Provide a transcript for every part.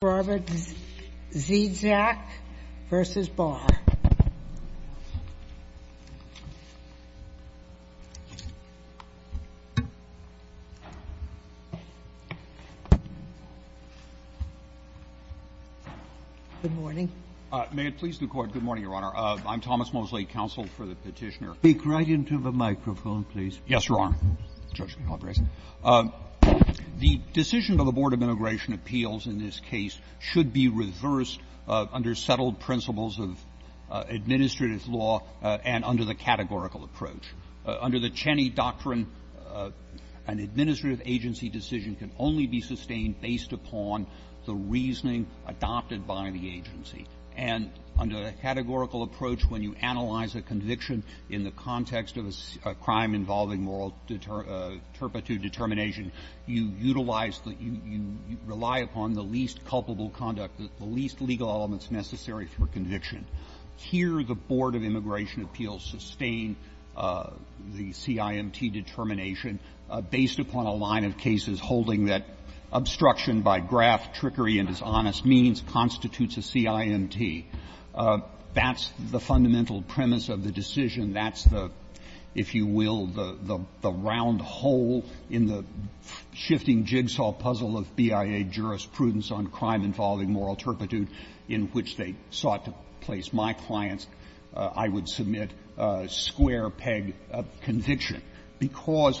Good morning. May it please the Court, good morning, Your Honor. I'm Thomas Mosley, counsel for the petitioner. Speak right into the microphone, please. Yes, Your Honor. The decision of the Board of Immigration Appeals in this case should be reversed under settled principles of administrative law and under the categorical approach. Under the Cheney Doctrine, an administrative agency decision can only be sustained based upon the reasoning adopted by the agency. And under the categorical approach, when you analyze a conviction in the context of a crime involving moral turpitude determination, you utilize the – you rely upon the least culpable conduct, the least legal elements necessary for conviction. Here, the Board of Immigration Appeals sustain the CIMT determination based upon a line of cases holding that obstruction by graft, trickery, and dishonest means constitutes a CIMT. That's the fundamental premise of the decision. That's the, if you will, the round hole in the shifting jigsaw puzzle of BIA jurisprudence on crime involving moral turpitude in which they sought to place my client's, I would submit, square-peg conviction. Because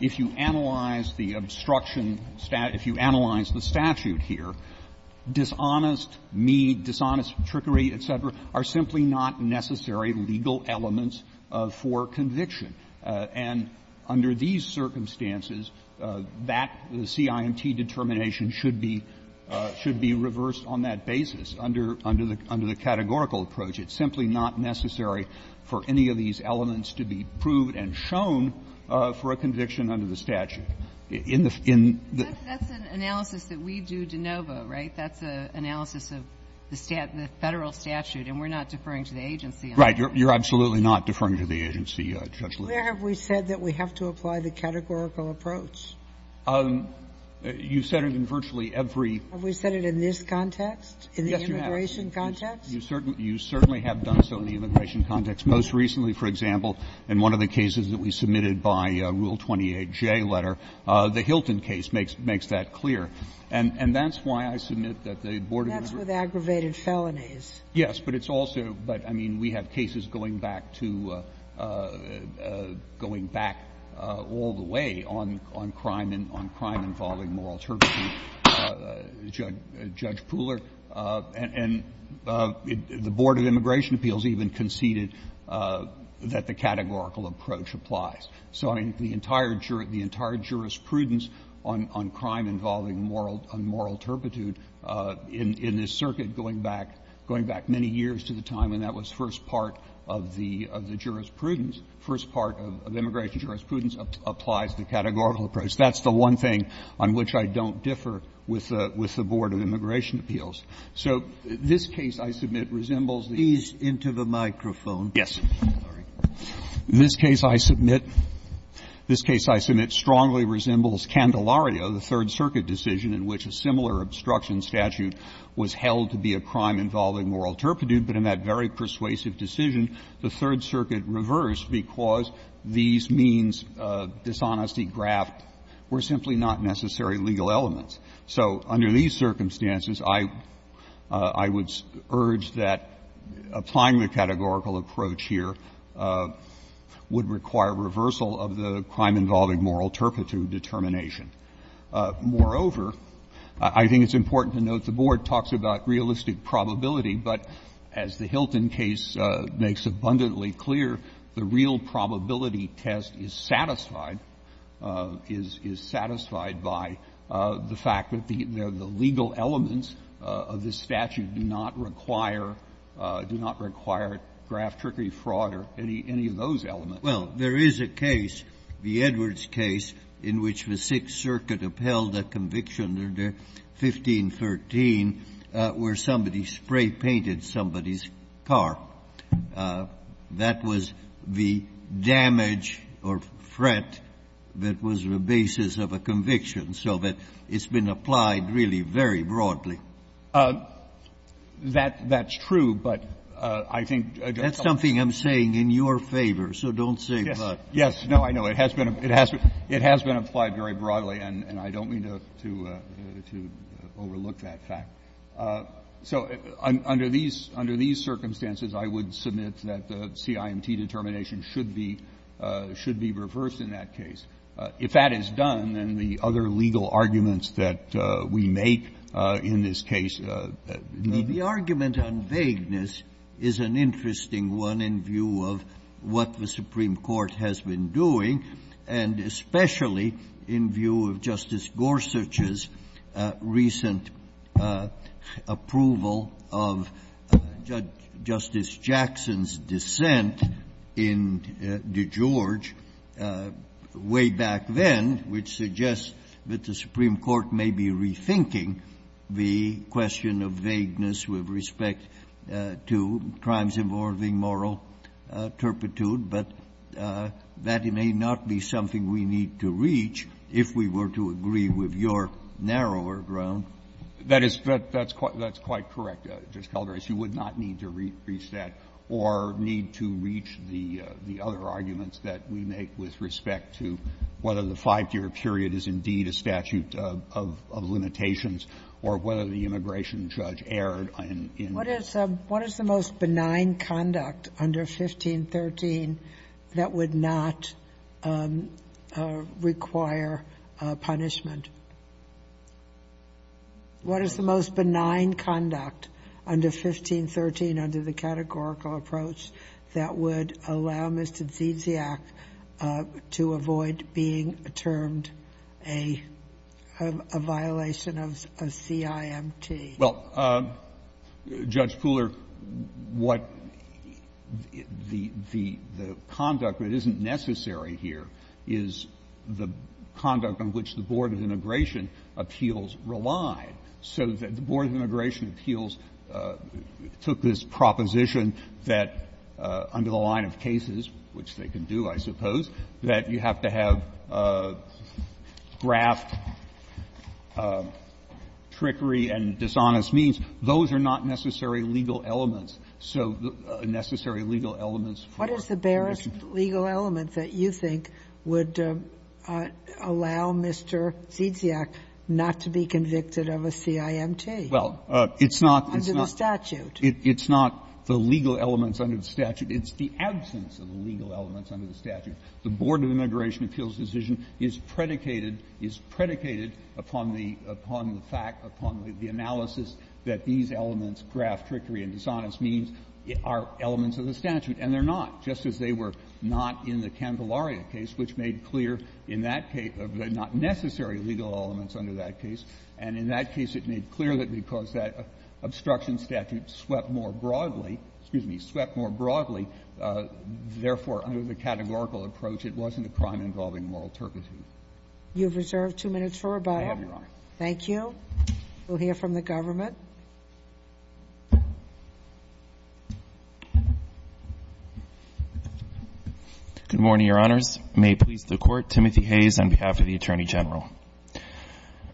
if you analyze the obstruction statute, if you analyze the statute here, dishonest, mean, dishonest, trickery, et cetera, are simply not necessary legal elements for conviction. And under these circumstances, that CIMT determination should be reversed on that basis under the categorical approach. It's simply not necessary for any of these That's an analysis that we do de novo, right? That's an analysis of the federal statute, and we're not deferring to the agency. Right. You're absolutely not deferring to the agency, Judge Little. Where have we said that we have to apply the categorical approach? You've said it in virtually every — Have we said it in this context? Yes, you have. In the immigration context? You certainly have done so in the immigration context. Most recently, for example, in one of the cases that we submitted by Rule 28J letter, the Hilton case makes that clear. And that's why I submit that the Board of Immigration That's with aggravated felonies. Yes, but it's also — but, I mean, we have cases going back to — going back all the way on crime involving moral turpitude, Judge Pooler. And the Board of Immigration Appeals even conceded that the categorical approach applies. So, I mean, the entire jurisprudence on crime involving moral — on moral turpitude in this circuit going back many years to the time when that was first part of the jurisprudence, first part of immigration jurisprudence applies the categorical approach. That's the one thing on which I don't differ with the Board of Immigration Appeals. So this case, I submit, resembles the — Please enter the microphone. Yes. In this case, I submit — this case, I submit, strongly resembles Candelario, the Third Circuit decision in which a similar obstruction statute was held to be a crime involving moral turpitude, but in that very persuasive decision, the Third Circuit reversed because these means of dishonesty graft were simply not necessary legal elements. So under these circumstances, I — I would urge that applying the categorical approach here would require reversal of the crime involving moral turpitude determination. Moreover, I think it's important to note the Board talks about realistic probability, but as the Hilton case makes abundantly clear, the real probability test is satisfied — is satisfied by the fact that the legal elements of this statute do not require — do not require graft, trickery, fraud, or any of those elements. Well, there is a case, the Edwards case, in which the Sixth Circuit upheld a conviction under 1513 where somebody spray-painted somebody's car. That was the damage or threat that was the basis of a conviction, so that it's been applied really very broadly. That's true, but I think — That's something I'm saying in your favor, so don't say but. Yes. No, I know. It has been — it has been applied very broadly, and I don't mean to overlook that fact. So under these circumstances, I would submit that the CIMT determination should be reversed in that case. If that is done, then the other legal arguments that we make in this case need to be reversed. The argument on vagueness is an interesting one in view of what the Supreme Court has been doing, and especially in view of Justice Gorsuch's recent approval of Justice Jackson's dissent in DeGeorge way back then, which suggests that the Supreme Court may be rethinking the question of vagueness with respect to crimes involving moral turpitude, but that may not be something we need to reach if we were to agree with your narrower ground. That is — that's quite correct, Justice Calabresi. You would not need to reach that or need to reach the other arguments that we make with respect to whether the five-year period is indeed a statute of limitations or whether the immigration judge erred in — What is the most benign conduct under 1513 that would not require punishment? What is the most benign conduct under 1513 under the categorical approach that would allow Mr. Ziziak to avoid being termed a violation of CIMT? Well, Judge Pooler, what the conduct that isn't necessary here is the conduct on which the Board of Immigration Appeals relied. So the Board of Immigration Appeals took this proposition that under the line of 1513, you have to have cases, which they can do, I suppose, that you have to have graft, trickery, and dishonest means. Those are not necessary legal elements, so necessary legal elements for the Mission Code. What is the barest legal element that you think would allow Mr. Ziziak not to be convicted of a CIMT? Well, it's not the statute. It's not the legal elements under the statute. It's the absence of the legal elements under the statute. The Board of Immigration Appeals decision is predicated upon the fact, upon the analysis that these elements, graft, trickery, and dishonest means, are elements of the statute. And they're not, just as they were not in the Candelaria case, which made clear in that case the not necessary legal elements under that case. And in that case, it made clear that because that obstruction statute swept more broadly, therefore, under the categorical approach, it wasn't a crime involving moral turpitude. You have reserved two minutes for rebuttal. Thank you. We'll hear from the government. Good morning, Your Honors. May it please the Court, Timothy Hayes on behalf of the Attorney General.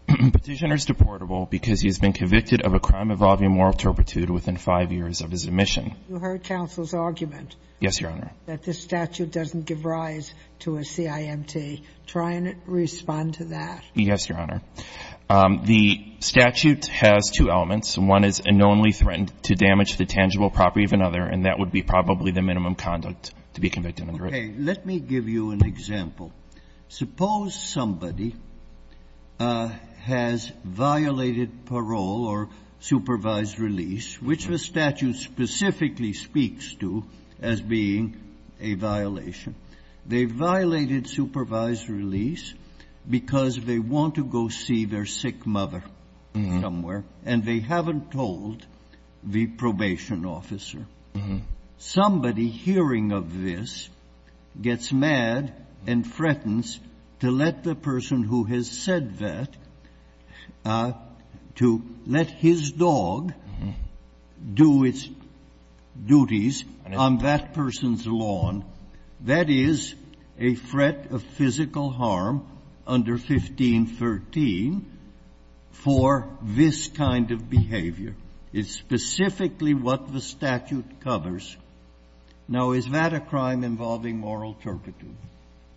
Petitioner is deportable because he has been convicted of a crime involving moral turpitude within five years of his admission. You heard counsel's argument. Yes, Your Honor. That this statute doesn't give rise to a CIMT. Try and respond to that. Yes, Your Honor. The statute has two elements. One is unknowingly threatened to damage the tangible property of another, and that would be probably the minimum conduct to be convicted under it. Okay. Let me give you an example. Suppose somebody has violated parole or supervised release, which was statute-specific to as being a violation. They violated supervised release because they want to go see their sick mother somewhere, and they haven't told the probation officer. Somebody hearing of this gets mad and threatens to let the person who has said that to let his dog do its duties on that person's lawn. That is a threat of physical harm under 1513 for this kind of behavior. It's specifically what the statute covers. Now, is that a crime involving moral turpitude?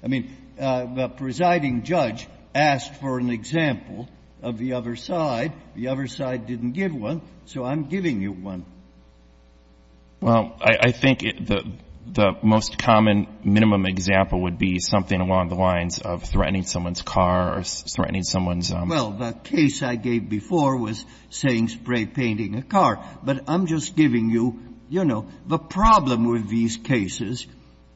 I mean, the presiding judge asked for an example of the other side. The other side didn't give one, so I'm giving you one. Well, I think the most common minimum example would be something along the lines of threatening someone's car or threatening someone's own. Well, the case I gave before was saying spray painting a car. But I'm just giving you, you know, the problem with these cases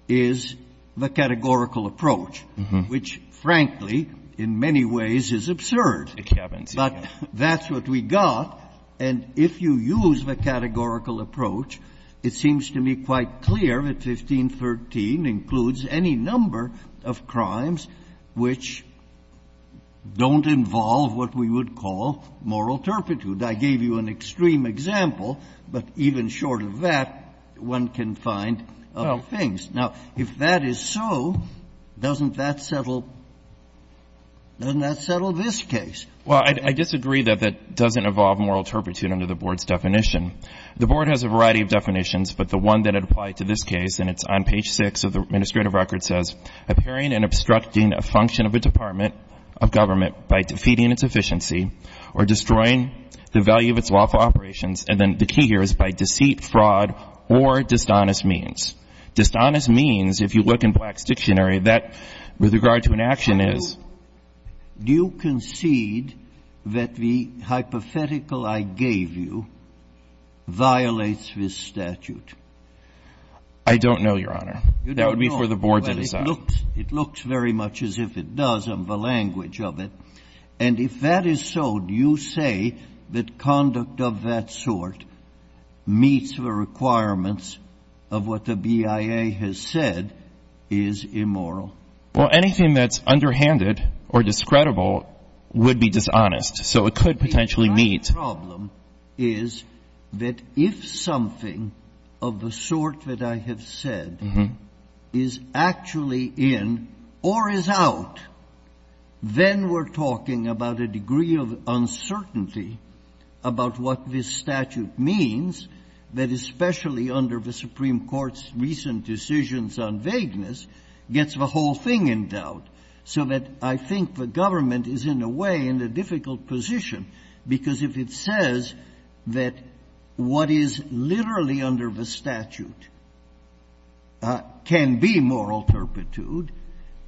is the categorical approach, which, frankly, in many ways is absurd. But that's what we got. And if you use the categorical approach, it seems to me quite clear that 1513 includes any number of crimes which don't involve what we would call moral turpitude. I gave you an extreme example, but even short of that, one can find other things. Now, if that is so, doesn't that settle this case? Well, I disagree that that doesn't involve moral turpitude under the Board's definition. The Board has a variety of definitions, but the one that applied to this case, and it's on page 6 of the administrative record, says, appearing and obstructing a function of a department of government by defeating its efficiency or destroying the value of its lawful operations. And then the key here is by deceit, fraud, or dishonest means. Dishonest means, if you look in Black's dictionary, that with regard to an action is Do you concede that the hypothetical I gave you violates this statute? I don't know, Your Honor. You don't know. That would be for the Board to decide. It looks very much as if it does on the language of it. And if that is so, do you say that conduct of that sort meets the requirements of what the BIA has said is immoral? Well, anything that's underhanded or discreditable would be dishonest, so it could potentially meet. My problem is that if something of the sort that I have said is actually in or is out, then we're talking about a degree of uncertainty about what this statute means, that especially under the Supreme Court's recent decisions on vagueness, gets the whole thing in doubt. So that I think the government is in a way in a difficult position, because if it says that what is literally under the statute can be moral turpitude,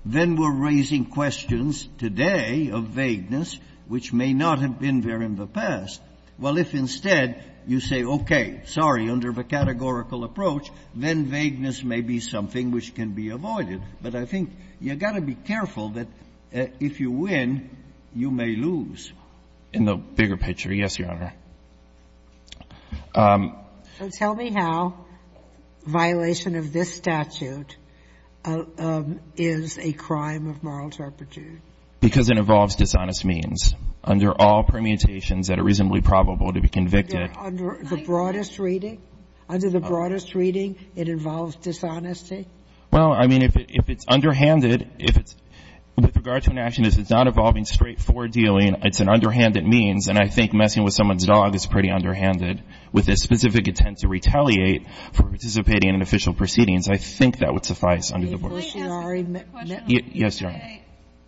then we're raising questions today of vagueness, which may not have been there in the past. Well, if instead you say, okay, sorry, under the categorical approach, then vagueness may be something which can be avoided. But I think you've got to be careful that if you win, you may lose. In the bigger picture, yes, Your Honor. So tell me how violation of this statute is a crime of moral turpitude. Because it involves dishonest means. Under all permutations that are reasonably probable to be convicted under the broadest reading, under the broadest reading, it involves dishonesty. Well, I mean, if it's underhanded, if it's – with regard to an action, if it's not involving straightforward dealing, it's an underhanded means. And I think messing with someone's dog is pretty underhanded. With a specific intent to retaliate for participating in an official proceedings, I think that would suffice under the board. May I ask a question? Yes, Your Honor.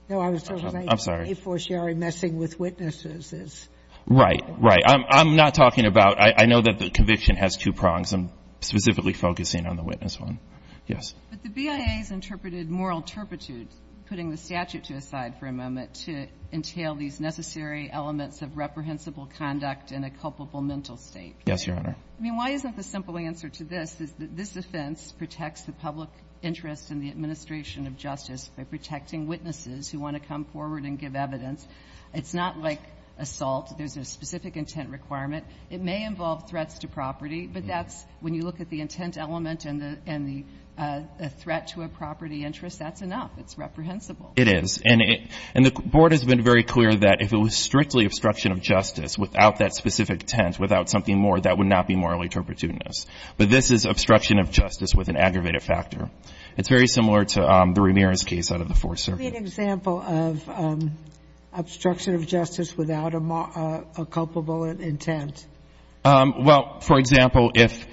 No, I was just going to say, a fortiori, messing with witnesses is – Right, right. I'm not talking about – I know that the conviction has two prongs. I'm specifically focusing on the witness one. Yes. But the BIA has interpreted moral turpitude, putting the statute to the side for a moment, to entail these necessary elements of reprehensible conduct in a culpable mental state. Yes, Your Honor. I mean, why isn't the simple answer to this is that this offense protects the public interest in the administration of justice by protecting witnesses who want to come forward and give evidence. It's not like assault. There's a specific intent requirement. It may involve threats to property, but that's – when you look at the intent element and the threat to a property interest, that's enough. It's reprehensible. It is. And the board has been very clear that if it was strictly obstruction of justice without that specific intent, without something more, that would not be morally turpitudinous. But this is obstruction of justice with an aggravated factor. It's very similar to the Ramirez case out of the Fourth Circuit. Give me an example of obstruction of justice without a culpable intent. Well, for example, if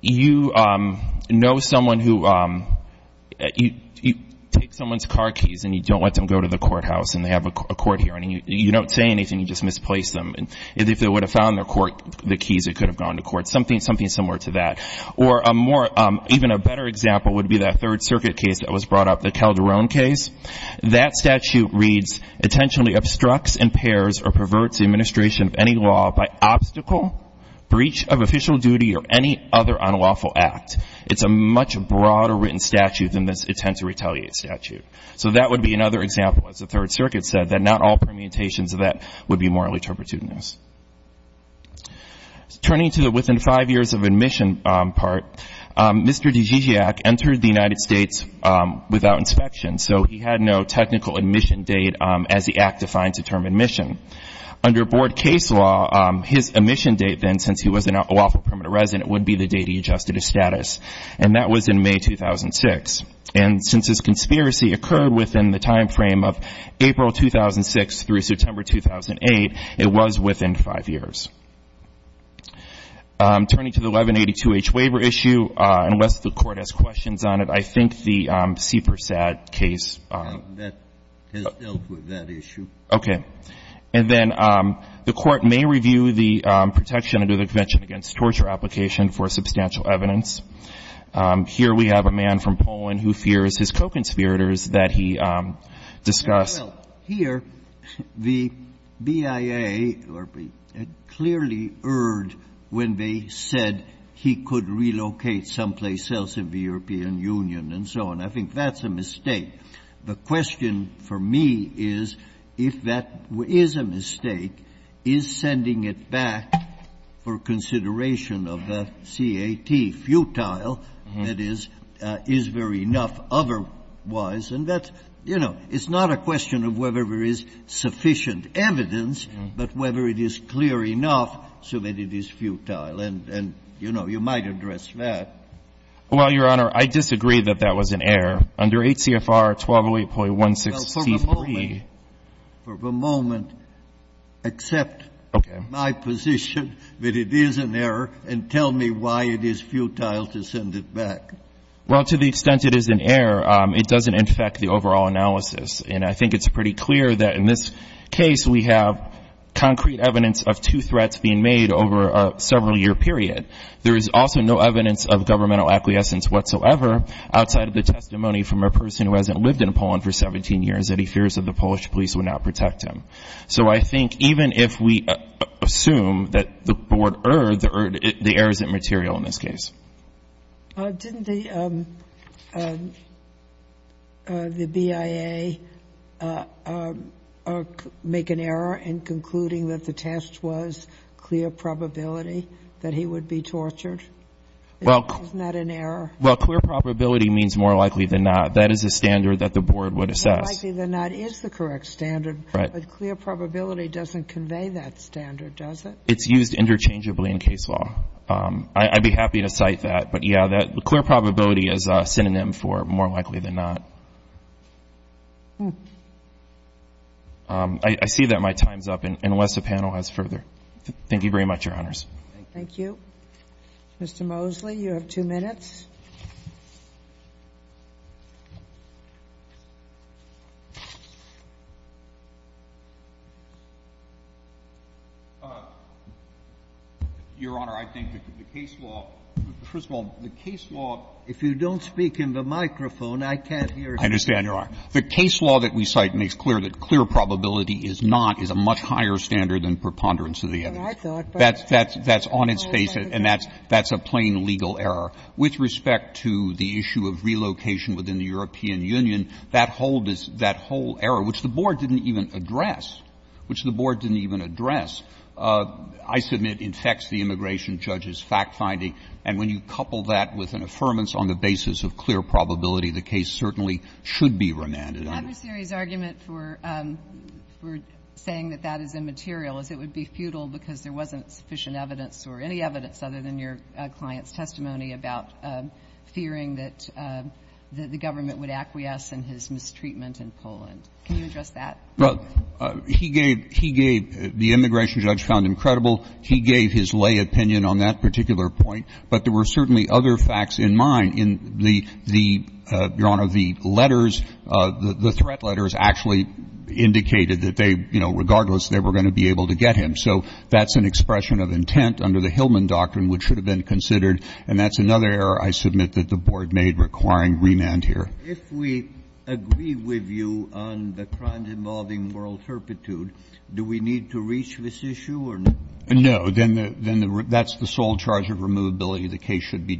you know someone who – you take someone's car keys and you don't let them go to the courthouse and they have a court hearing, you don't say anything, you just misplace them. And if they would have found their keys, they could have gone to court. Something similar to that. Or a more – even a better example would be that Third Circuit case that was brought up, the Calderon case. That statute reads, intentionally obstructs, impairs, or perverts the administration of any law by obstacle, breach of official duty, or any other unlawful act. It's a much broader written statute than this intent to retaliate statute. So that would be another example, as the Third Circuit said, that not all permutations of that would be morally turpitudinous. Turning to the within five years of admission part, Mr. Dzidzisiajk entered the United States without inspection. So he had no technical admission date as the act defines the term admission. Under board case law, his admission date then, since he was an unlawful permanent resident, would be the date he adjusted his status. And that was in May 2006. And since his conspiracy occurred within the timeframe of April 2006 through September 2008, it was within five years. Turning to the 1182-H waiver issue, unless the Court has questions on it, I think the Seepersad case – And then the Court may review the protection under the Convention Against Torture application for substantial evidence. Here we have a man from Poland who fears his co-conspirators that he discuss Well, here, the BIA had clearly erred when they said he could relocate someplace else in the European Union and so on. I think that's a mistake. The question for me is, if that is a mistake, is sending it back for consideration of the CAT futile, that is, is there enough otherwise? And that's, you know, it's not a question of whether there is sufficient evidence, but whether it is clear enough so that it is futile. And, you know, you might address that. Well, Your Honor, I disagree that that was an error. Under 8 CFR 1208.16c3 – Well, for the moment – for the moment, accept my position that it is an error and tell me why it is futile to send it back. Well, to the extent it is an error, it doesn't infect the overall analysis. And I think it's pretty clear that in this case, we have concrete evidence of two threats being made over a several-year period. There is also no evidence of governmental acquiescence whatsoever outside of the testimony from a person who hasn't lived in Poland for 17 years that he fears that the Polish police would not protect him. So I think even if we assume that the Board erred, the error isn't material in this case. Didn't the BIA make an error in concluding that the test was clear probability that he would be tortured? Isn't that an error? Well, clear probability means more likely than not. That is a standard that the Board would assess. More likely than not is the correct standard. Right. But clear probability doesn't convey that standard, does it? It's used interchangeably in case law. I'd be happy to cite that. But, yeah, that clear probability is a synonym for more likely than not. I see that my time's up, unless the panel has further. Thank you very much, Your Honors. Thank you. Mr. Mosley, you have two minutes. Your Honor, I think that the case law – first of all, the case law. If you don't speak into the microphone, I can't hear you. I understand, Your Honor. The case law that we cite makes clear that clear probability is not, is a much higher standard than preponderance of the evidence. That's on its face, and that's a plain legal error. With respect to the issue of relocation within the European Union, that whole error, which the Board didn't even address, which the Board didn't even address, I submit infects the immigration judge's fact-finding. And when you couple that with an affirmance on the basis of clear probability, the case certainly should be remanded. The adversary's argument for saying that that is immaterial is it would be futile because there wasn't sufficient evidence or any evidence other than your client's testimony about fearing that the government would acquiesce in his mistreatment in Poland. Can you address that? Well, he gave – he gave – the immigration judge found him credible. He gave his lay opinion on that particular point. But there were certainly other facts in mind in the – the, Your Honor, the letters, the threat letters actually indicated that they, you know, regardless, they were going to be able to get him. So that's an expression of intent under the Hillman doctrine, which should have been considered, and that's another error I submit that the Board made requiring remand here. If we agree with you on the crimes involving moral turpitude, do we need to reach this issue or not? No. Then the – that's the sole charge of removability. The case should be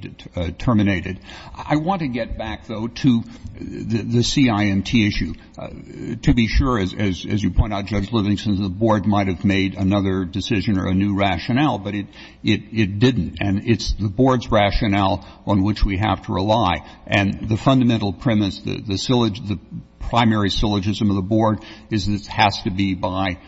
terminated. I want to get back, though, to the CIMT issue. To be sure, as you point out, Judge Livingston, the Board might have made another decision or a new rationale, but it didn't. And it's the Board's rationale on which we have to rely. And the fundamental premise, the syllogism, the primary syllogism of the Board is this has to be by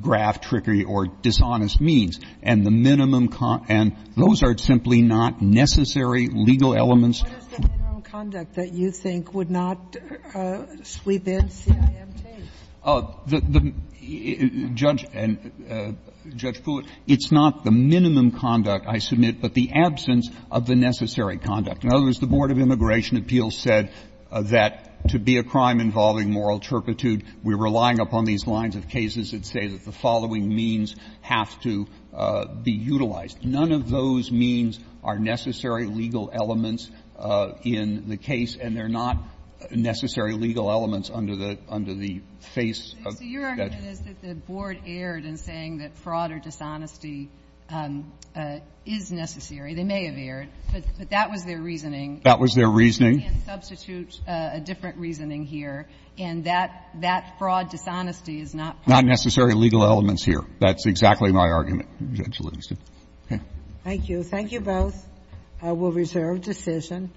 graft, trickery, or dishonest means. And the minimum con – and those are simply not necessary legal elements. What is the minimum conduct that you think would not sweep in CIMT? The – Judge – and Judge Kulit, it's not the minimum conduct, I submit, but the absence of the necessary conduct. In other words, the Board of Immigration Appeals said that to be a crime involving moral turpitude, we're relying upon these lines of cases that say that the following means have to be utilized. None of those means are necessary legal elements in the case, and they're not necessary legal elements under the – under the face of that – So your argument is that the Board erred in saying that fraud or dishonesty is necessary. They may have erred, but that was their reasoning. That was their reasoning. We can substitute a different reasoning here, and that – that fraud dishonesty is not part of the reasoning. Not necessary legal elements here. That's exactly my argument, Judge Livingston. Okay. Thank you. Thank you both. I will reserve decision.